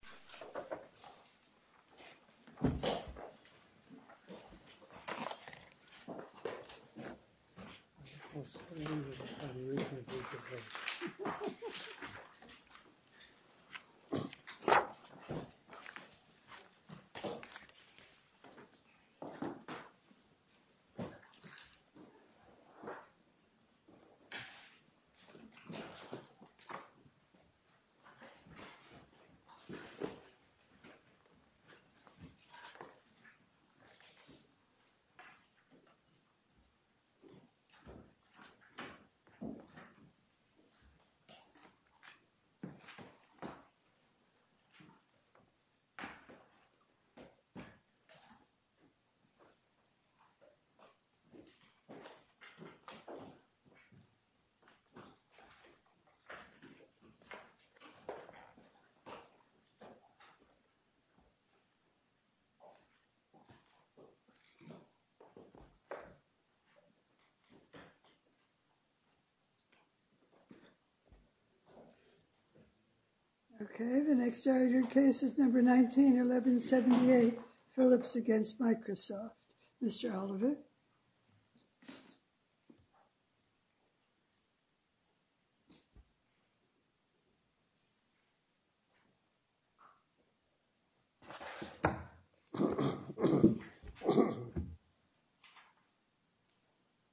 Microsoft Office Word Document MSWordDoc Word.Document.8 Microsoft Office Word Document MSWordDoc Word.Document.8 Microsoft Office Word Document MSWordDoc Word.Document.8 Microsoft Office Word Document MSWordDoc Word.Document.8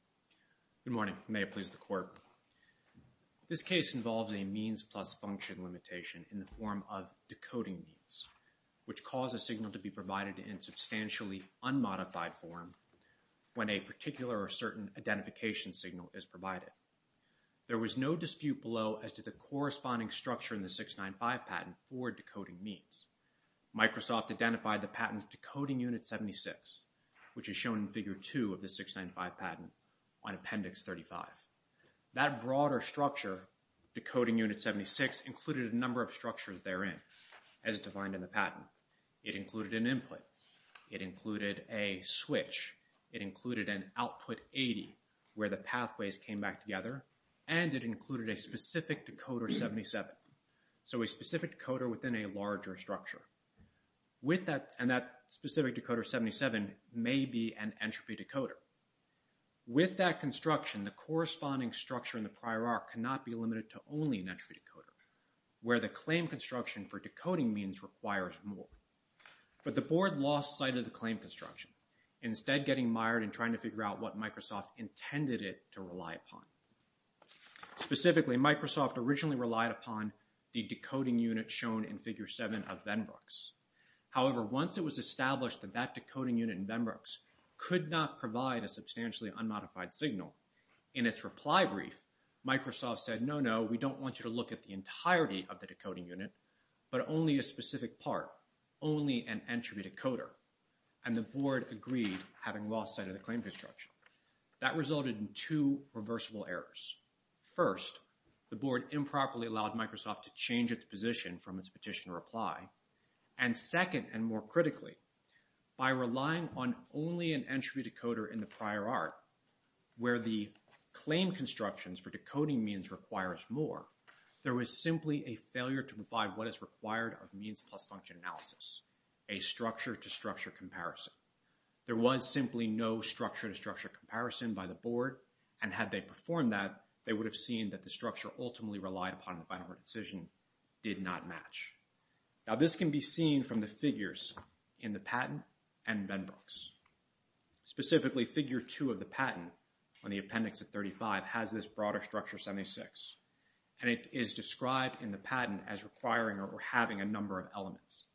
Good morning. May it please the Court. This case involves a means plus function limitation in the form of decoding means which cause a signal to be provided in substantially unmodified form when a particular or certain identification signal is provided. There was no dispute below as to the corresponding structure in the 695 patent for decoding means. Microsoft identified the patent's decoding unit 76, which is shown in Figure 2 of the 695 patent on Appendix 35. That broader structure, decoding unit 76, included a number of structures therein as defined in the patent. It included an input. It included a switch. It included an output 80, where the pathways came back together. And it included a specific decoder 77. So a specific decoder within a larger structure. And that specific decoder 77 may be an entropy decoder. With that construction, the corresponding structure in the prior arc cannot be limited to only an entropy decoder, where the claim construction for decoding means requires more. But the Board lost sight of the claim construction, instead getting mired in trying to figure out what Microsoft intended it to rely upon. Specifically, Microsoft originally relied upon the decoding unit shown in Figure 7 of Venbrook's. However, once it was established that that decoding unit in Venbrook's could not provide a substantially unmodified signal, in its reply brief, Microsoft said, no, no, we don't want you to look at the entirety of the decoding unit, but only a specific part, only an entropy decoder. And the Board agreed, having lost sight of the claim construction. That resulted in two reversible errors. First, the Board improperly allowed Microsoft to change its position from its petition reply. And second, and more critically, by relying on only an entropy decoder in the prior arc, where the claim constructions for decoding means requires more, there was simply a failure to provide what is required of means plus function analysis, a structure to structure comparison. There was simply no structure to structure comparison by the Board, and had they performed that, they would have seen that the structure ultimately relied upon in the final decision did not match. Now, this can be seen from the figures in the patent and Venbrook's. Specifically, Figure 2 of the patent, on the appendix of 35, has this structure as requiring or having a number of elements.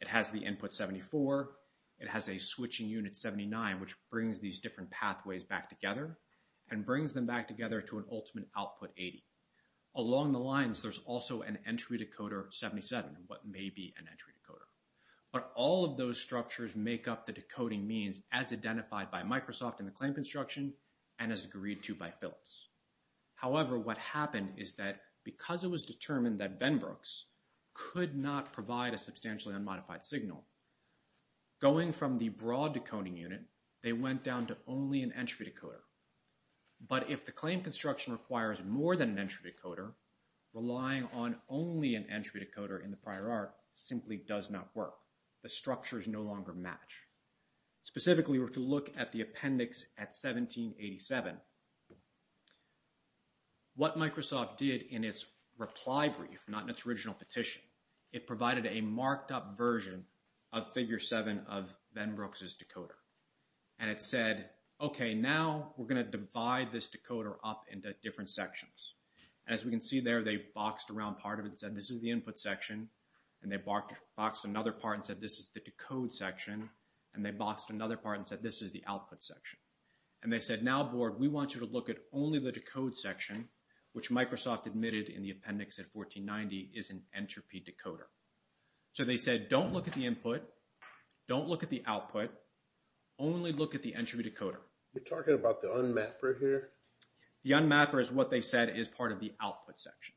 It has the input 74, it has a switching unit 79, which brings these different pathways back together, and brings them back together to an ultimate output 80. Along the lines, there's also an entry decoder 77, what may be an entry decoder. But all of those structures make up the decoding means as identified by Microsoft in the claim construction, and as agreed to by Phillips. However, what happened is that because it was determined that Venbrook's could not provide a substantially unmodified signal, going from the broad decoding unit, they went down to only an entry decoder. But if the claim construction requires more than an entry decoder, relying on only an entry decoder in the prior art simply does not work. The structures no longer match. Specifically, if we were to look at the appendix at 1787, what Microsoft did in its reply brief, not in its original petition, it provided a marked up version of Figure 7 of Venbrook's decoder. And it said, okay, now we're going to divide this decoder up into different sections. As we can see there, they boxed around part of it and said, this is the input section. And they boxed another part and said, this is the decode section. And they boxed another part and said, this is the output section. And they said, now, Borg, we want you to look at only the decode section, which Microsoft admitted in the appendix at 1490 is an entropy decoder. So they said, don't look at the input. Don't look at the output. Only look at the entry decoder. You're talking about the unmapper here? The unmapper is what they said is part of the output section.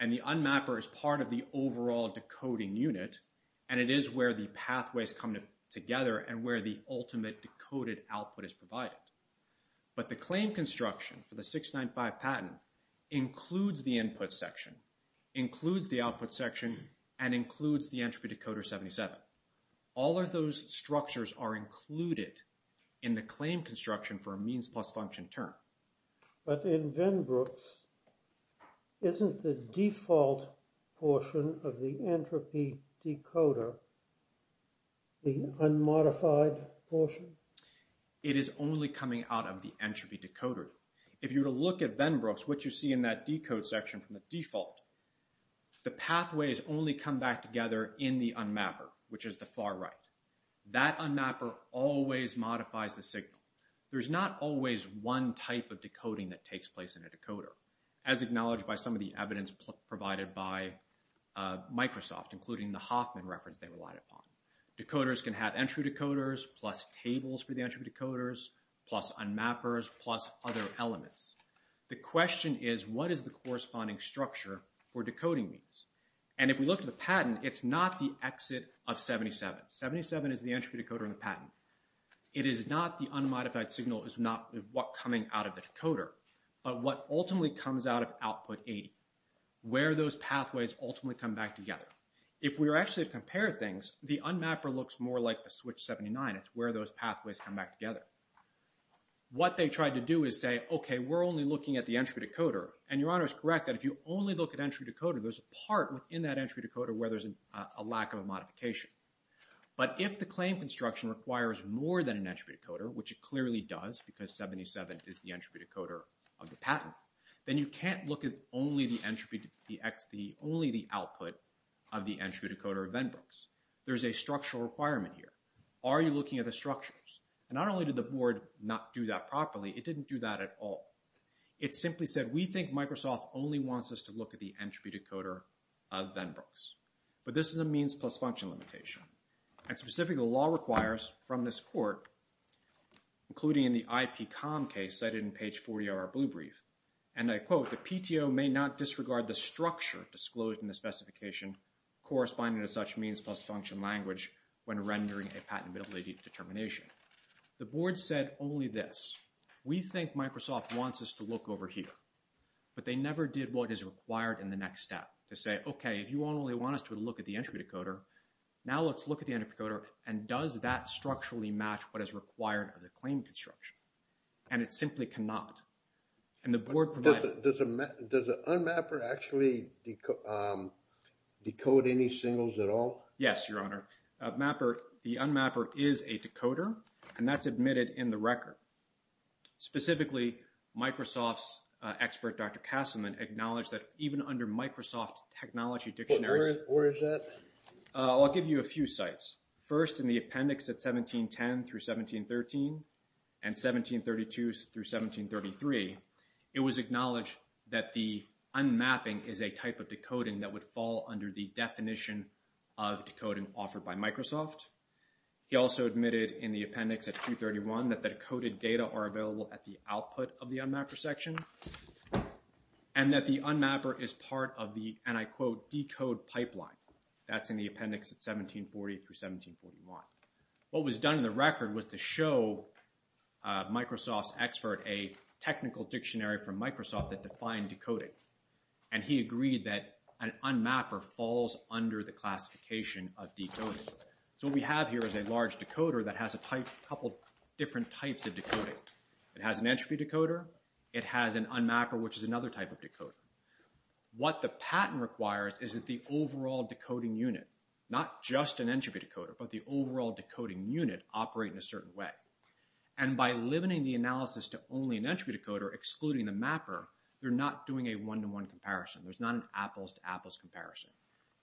And the unmapper is part of the overall decoding unit. And it is where the pathways come together and where the ultimate decoded output is provided. But the claim construction for the 695 patent includes the input section, includes the output section, and includes the entropy decoder 77. All of those structures are included in the claim construction for a means plus function term. But in Venbrooks, isn't the default portion of the entropy decoder the unmodified portion? It is only coming out of the entropy decoder. If you were to look at Venbrooks, what you see in that decode section from the default, the pathways only come back together in the unmapper, which is the far right. That unmapper always modifies the signal. There's not always one type of decoding that takes place in a decoder, as acknowledged by some of the evidence provided by Microsoft, including the Hoffman reference they relied upon. Decoders can have entry decoders, plus tables for the entry decoders, plus unmappers, plus other elements. The question is, what is the corresponding structure for decoding these? And if we look at the patent, it's not the exit of 77. 77 is the entropy decoder in the default coming out of the decoder, but what ultimately comes out of output 80, where those pathways ultimately come back together. If we were actually to compare things, the unmapper looks more like the switch 79. It's where those pathways come back together. What they tried to do is say, okay, we're only looking at the entropy decoder. And Your Honor is correct that if you only look at entropy decoder, there's a part within that entropy decoder where there's a lack of a modification. But if the claim construction requires more than an entropy decoder, which it clearly does because 77 is the entropy decoder of the patent, then you can't look at only the output of the entropy decoder of Venbrook's. There's a structural requirement here. Are you looking at the structures? And not only did the board not do that properly, it didn't do that at all. It simply said, we think Microsoft only wants us to look at the entropy decoder of Venbrook's. But this is a means plus function limitation. And specifically, the law requires from this court, including in the IPCOM case cited in page 40 of our blue brief, and I quote, the PTO may not disregard the structure disclosed in the specification corresponding to such means plus function language when rendering a patentability determination. The board said only this. We think Microsoft wants us to look over here. But they never did what is required in the next step to say, okay, if you only want us to look at the entropy decoder, now let's look at the entropy decoder. And does that structurally match what is required of the claim construction? And it simply cannot. And the board provided... Does the unmapper actually decode any singles at all? Yes, Your Honor. The unmapper is a decoder, and that's admitted in the record. Specifically, Microsoft's expert, Dr. Kasselman, acknowledged that even under Microsoft's technology dictionaries... Where is that? I'll give you a few sites. First, in the appendix at 1710 through 1713, and 1732 through 1733, it was acknowledged that the unmapping is a type of decoding that would fall under the definition of decoding offered by Microsoft. He also admitted in the appendix at 231 that decoded data are available at the output of the unmapper section, and that the unmapper is part of the, and I quote, decode pipeline. That's in the appendix at 1740 through 1741. What was done in the record was to show Microsoft's expert a technical dictionary from Microsoft that defined decoding. And he agreed that an unmapper falls under the classification of decoding. So what we have here is a large decoder that has a couple different types of decoding. It has an entropy decoder. It has an unmapper, which is another type of decoder. What the patent requires is that the overall decoding unit, not just an entropy decoder, but the overall decoding unit operate in a certain way. And by limiting the analysis to only an entropy decoder, excluding the mapper, they're not doing a one-to-one comparison. There's not an apples-to-apples comparison.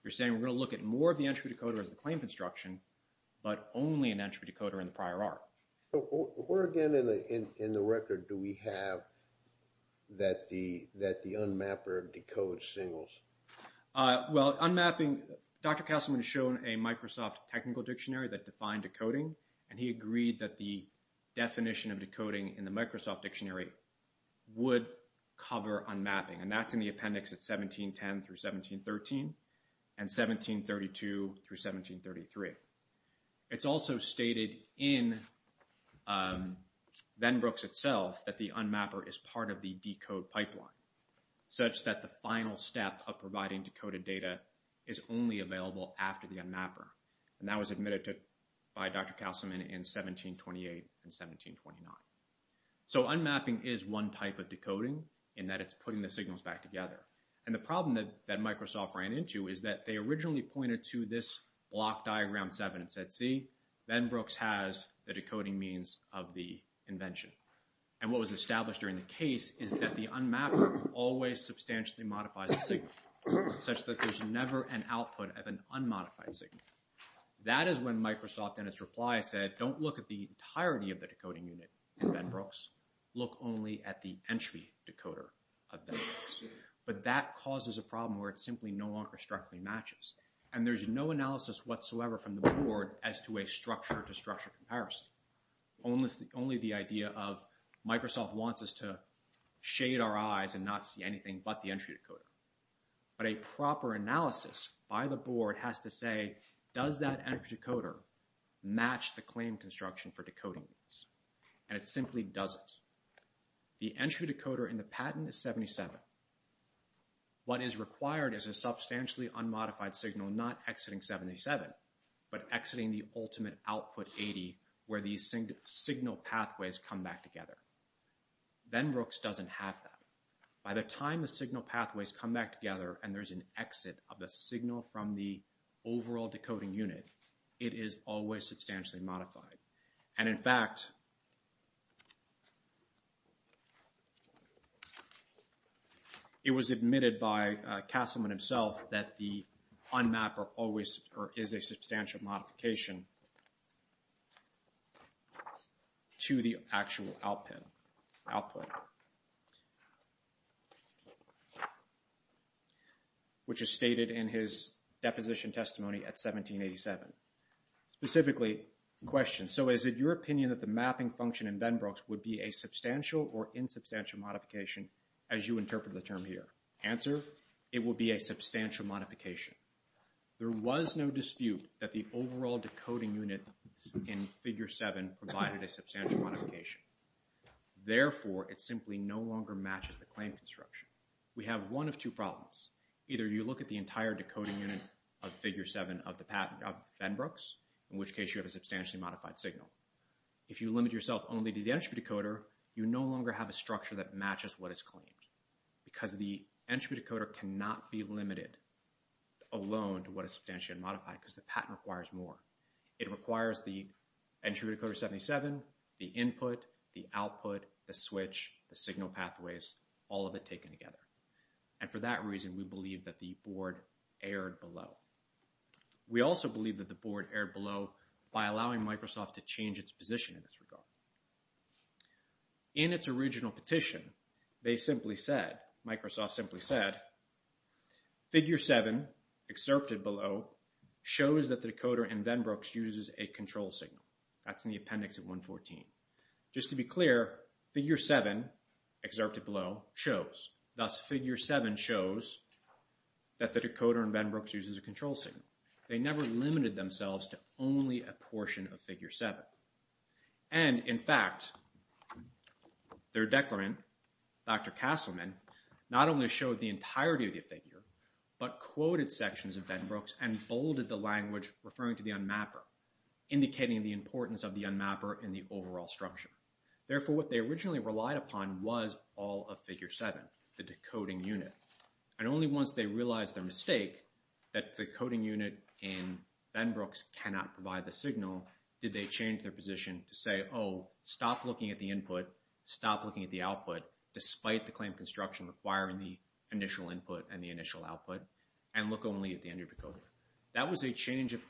You're saying we're going to look at more of the entropy decoder as the claim construction, but only an entropy decoder in the prior art. Where again in the record do we have that the unmapper decodes singles? Well, unmapping, Dr. Castelman has shown a Microsoft technical dictionary that defined decoding. And he agreed that the definition of decoding in the Microsoft dictionary would cover unmapping. And that's in the appendix at 1710 through 1713, and 1732 through 1733. It's also stated in Venbrooks itself that the unmapper is part of the decode pipeline, such that the final step of providing decoded data is only available after the unmapper. And that was admitted to by Dr. Castelman in 1728 and 1729. So unmapping is one type of decoding in that it's putting the signals back together. And the problem that Microsoft ran into is that they originally pointed to this block diagram in 1727 and said, see, Venbrooks has the decoding means of the invention. And what was established during the case is that the unmapper always substantially modifies the signal, such that there's never an output of an unmodified signal. That is when Microsoft in its reply said, don't look at the entirety of the decoding unit in Venbrooks. Look only at the entropy decoder of Venbrooks. But that causes a problem where it simply no longer strictly matches. And there's no analysis whatsoever from the board as to a structure-to-structure comparison. Only the idea of Microsoft wants us to shade our eyes and not see anything but the entry decoder. But a proper analysis by the board has to say, does that entropy decoder match the claim construction for decoding? And it simply doesn't. The entry decoder in the patent is 77. What is required is a substantially unmodified signal not exiting 77, but exiting the ultimate output 80 where these signal pathways come back together. Venbrooks doesn't have that. By the time the signal pathways come back together and there's an exit of the signal from the overall decoding unit, it is always substantially modified. And in fact, it was admitted by Castleman himself that the unmap is a substantial modification to the actual output, which is stated in his question. So is it your opinion that the mapping function in Venbrooks would be a substantial or insubstantial modification as you interpret the term here? Answer, it would be a substantial modification. There was no dispute that the overall decoding unit in Figure 7 provided a substantial modification. Therefore, it simply no longer matches the claim construction. We have one of two problems. Either you look at the entire decoding unit of Figure 7 of Venbrooks, in which case you have a substantially modified signal. If you limit yourself only to the entry decoder, you no longer have a structure that matches what is claimed because the entry decoder cannot be limited alone to what is substantially modified because the patent requires more. It requires the entry decoder 77, the input, the output, the switch, the signal pathways, all of it taken together. And for that reason, we believe that the board erred below by allowing Microsoft to change its position in this regard. In its original petition, they simply said, Microsoft simply said, Figure 7 excerpted below shows that the decoder in Venbrooks uses a control signal. That's in the appendix of 114. Just to be clear, Figure 7 excerpted below shows. Thus, Figure 7 shows that the decoder in Venbrooks uses a control signal. They never limited themselves to only a portion of Figure 7. And, in fact, their declarant, Dr. Castleman, not only showed the entirety of the figure, but quoted sections of Venbrooks and bolded the language referring to the unmapper, indicating the importance of the unmapper in the overall structure. Therefore, what they originally relied upon was all of Figure 7, the decoding unit. And only once they realized their mistake, that the coding unit in Venbrooks cannot provide the signal, did they change their position to say, oh, stop looking at the input, stop looking at the output, despite the claim construction requiring the initial input and the initial output, and look only at the entry decoder. That was a change of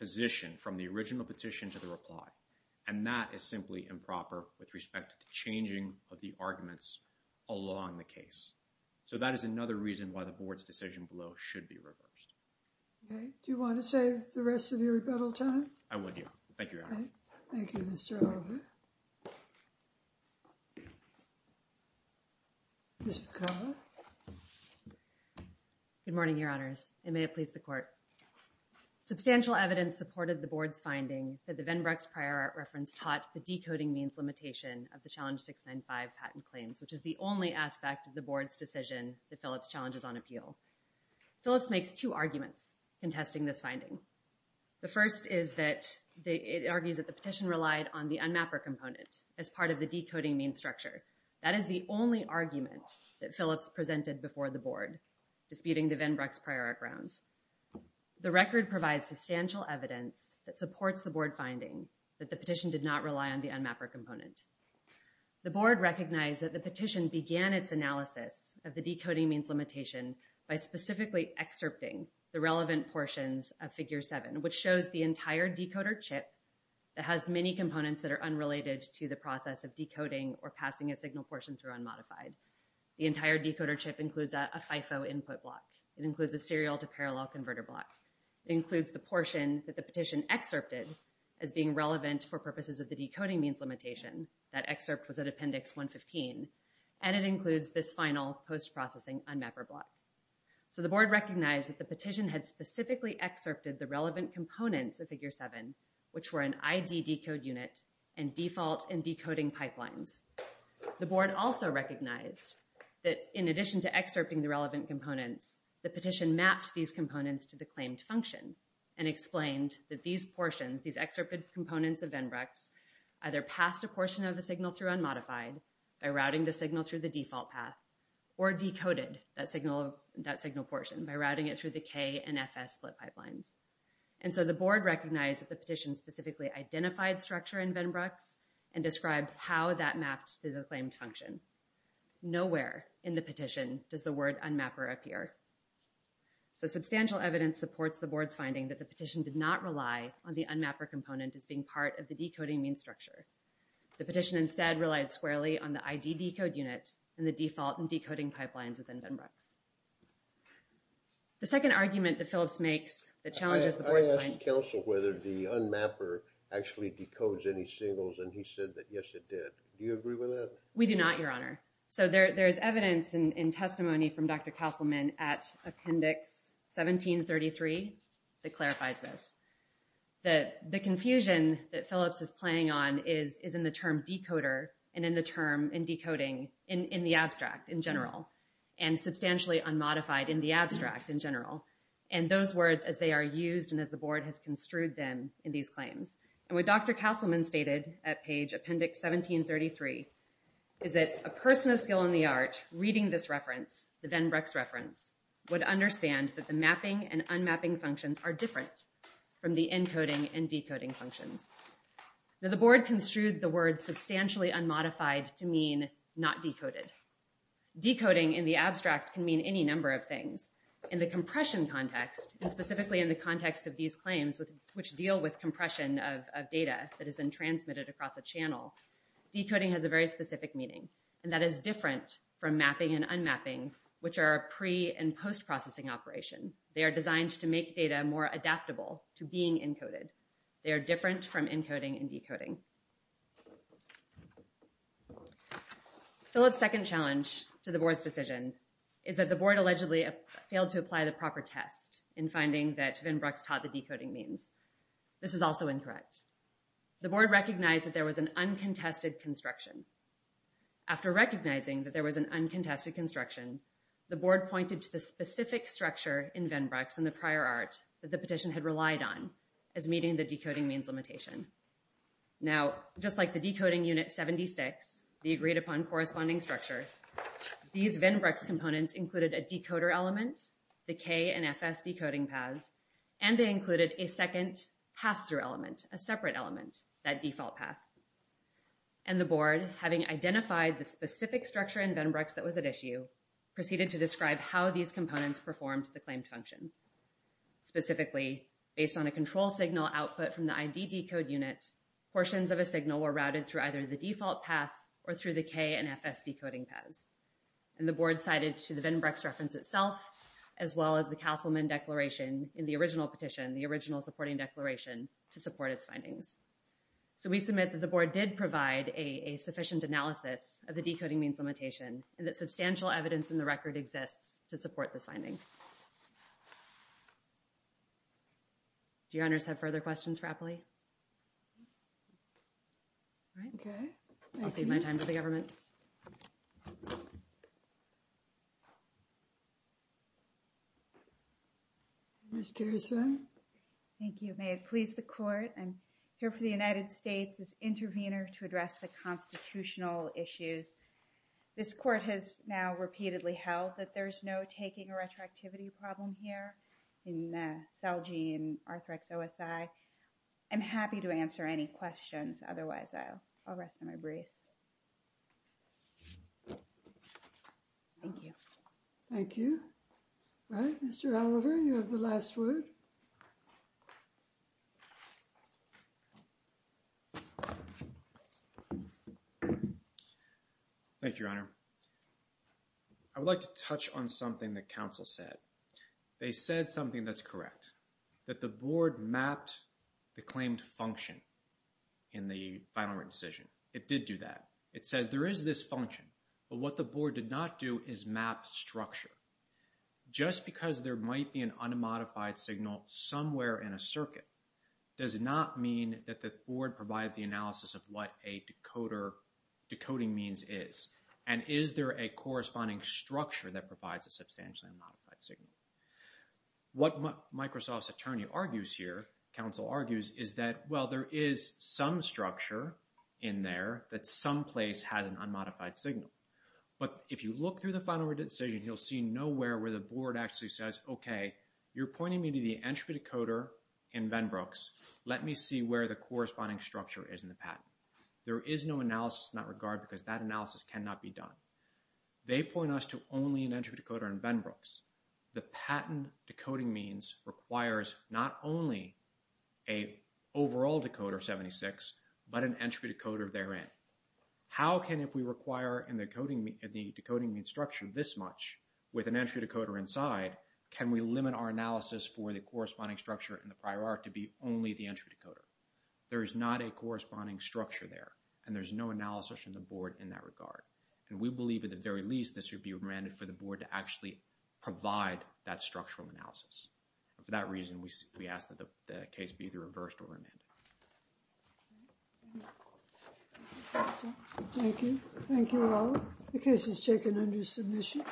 position from the original petition to the reply. And that is simply improper with respect to the changing of the arguments along the case. So that is another reason why the Board's decision below should be reversed. Okay. Do you want to save the rest of your rebuttal time? I would do. Thank you, Your Honor. Thank you, Mr. Oliver. Ms. McCullough? Good morning, Your Honors, and may it please the Court. Substantial evidence supported the Board's finding that the Venbrooks prior art reference taught the decoding means limitation of the Challenge 695 patent claims, which is the only aspect of the Board's decision that Phillips challenges on appeal. Phillips makes two arguments contesting this finding. The first is that it argues that the petition relied on the unmapper component as part of the decoding means structure. That is the only argument that Phillips presented before the Board disputing the Venbrooks prior art grounds. The record provides substantial evidence that supports the Board finding that the petition did not rely on the unmapper component. The Board recognized that the petition began its analysis of the decoding means limitation by specifically excerpting the relevant portions of Figure 7, which shows the entire decoder chip that has many components that are unrelated to the process of decoding or passing a signal portion through unmodified. The entire decoder chip includes a FIFO input block. It includes a serial to parallel converter block. It includes the portion that the petition excerpted as being relevant for purposes of the decoding means limitation. That excerpt was at Appendix 115. And it includes this final post-processing unmapper block. So the Board recognized that the petition had specifically excerpted the relevant components of Figure 7, which were an ID decode unit and default and decoding pipelines. The Board also recognized that in addition to excerpting the relevant components, the petition mapped these components to the claimed function and explained that these portions, these excerpted components of Venbrooks, either passed a portion of the signal through unmodified by routing the signal through the default path or decoded that signal portion by routing it through the K and FS split pipelines. And so the Board recognized that the petition specifically identified structure in Venbrooks and described how that mapped to the claimed function. Nowhere in the petition does the word unmapper appear. So substantial evidence supports the Board's finding that the petition did not rely on the unmapper component as being part of the decoding mean structure. The petition instead relied squarely on the ID decode unit and the default and decoding pipelines within Venbrooks. The second argument that Phillips makes that challenges the Board's finding... and he said that yes it did. Do you agree with that? We do not, Your Honor. So there's evidence in testimony from Dr. Castleman at Appendix 1733 that clarifies this. The confusion that Phillips is playing on is in the term decoder and in the term in decoding in the abstract in general and substantially unmodified in the abstract in general. And those words as they are used and as the Board has construed them in these claims. And what Dr. Castleman stated at page Appendix 1733 is that a person of skill in the art reading this reference, the Venbrooks reference, would understand that the mapping and unmapping functions are different from the encoding and decoding functions. The Board construed the word substantially unmodified to mean not decoded. Decoding in the abstract can mean any number of things. In the compression context, and specifically in the context of these claims which deal with compression of data that is then transmitted across a channel, decoding has a very specific meaning and that is different from mapping and unmapping which are a pre- and post-processing operation. They are designed to make data more adaptable to being encoded. They are different from encoding and decoding. Phillips' second challenge to the Board's decision is that the Board allegedly failed to apply the proper test in finding that Venbrooks taught the decoding means. This is also incorrect. The Board recognized that there was an uncontested construction. After recognizing that there was an uncontested construction, the Board pointed to the specific structure in Venbrooks in the prior art that the petition had relied on as meeting the decoding means limitation. Now just like the decoding unit 76, the agreed-upon corresponding structure, these Venbrooks components included a decoder element, the K and FS decoding paths, and they included a second pass-through element, a separate element, that default path. And the Board, having identified the specific structure in Venbrooks that was at issue, proceeded to describe how these components performed the claimed function. Specifically, based on a control signal output from the ID decode unit, portions of a signal were routed through either the default path or through the K and FS decoding paths. And the Board cited to the Venbrooks reference itself, as well as the Castleman Declaration in the original petition, the original supporting declaration, to support its findings. So we submit that the Board did provide a sufficient analysis of the decoding means limitation, and that substantial evidence in the record exists to support this finding. Do your honors have further questions for Appley? All right. I'll save my time for the government. Thank you. Ms. Caruso? Thank you. May it please the Court, I'm here for the United States as intervener to address the constitutional issues. This Court has now repeatedly held that there's no taking a retroactivity problem here in CELGI and Arthrex OSI. I'm happy to answer any questions. Otherwise, I'll rest on my brace. Thank you. Thank you. All right. Mr. Oliver, you have the last word. Thank you, Your Honor. I would like to touch on something that counsel said. They said something that's correct, that the Board mapped the claimed function in the final written decision. It did do that. It says there is this function, but what the Board did not do is map structure. Just because there might be an unmodified signal somewhere in a circuit does not mean that the Board provide the analysis of what a decoder, decoding means is. And is there a corresponding structure that provides a substantially unmodified signal? What Microsoft's attorney argues here, counsel argues, is that, well, there is some structure in there that someplace has an unmodified signal. But if you look through the final written decision, you'll see nowhere where the Board actually says, okay, you're pointing me to the entropy decoder in Venbrooks. Let me see where the corresponding structure is in the patent. There is no analysis in that regard because that analysis cannot be done. They point us to only an entropy decoder in Venbrooks. The patent decoding means requires not only a overall decoder 76, but an entropy decoder therein. How can if we require in the decoding structure this much with an entropy decoder inside, can we limit our analysis for the corresponding structure in the prior art to be only the entropy decoder? There is not a corresponding structure there, and there's no analysis from the Board in that regard. And we believe, at the very least, this should be remanded for the Board to actually provide that structural analysis. For that reason, we ask that the case be either reversed or remanded. Thank you. Thank you all. The case is taken under submission.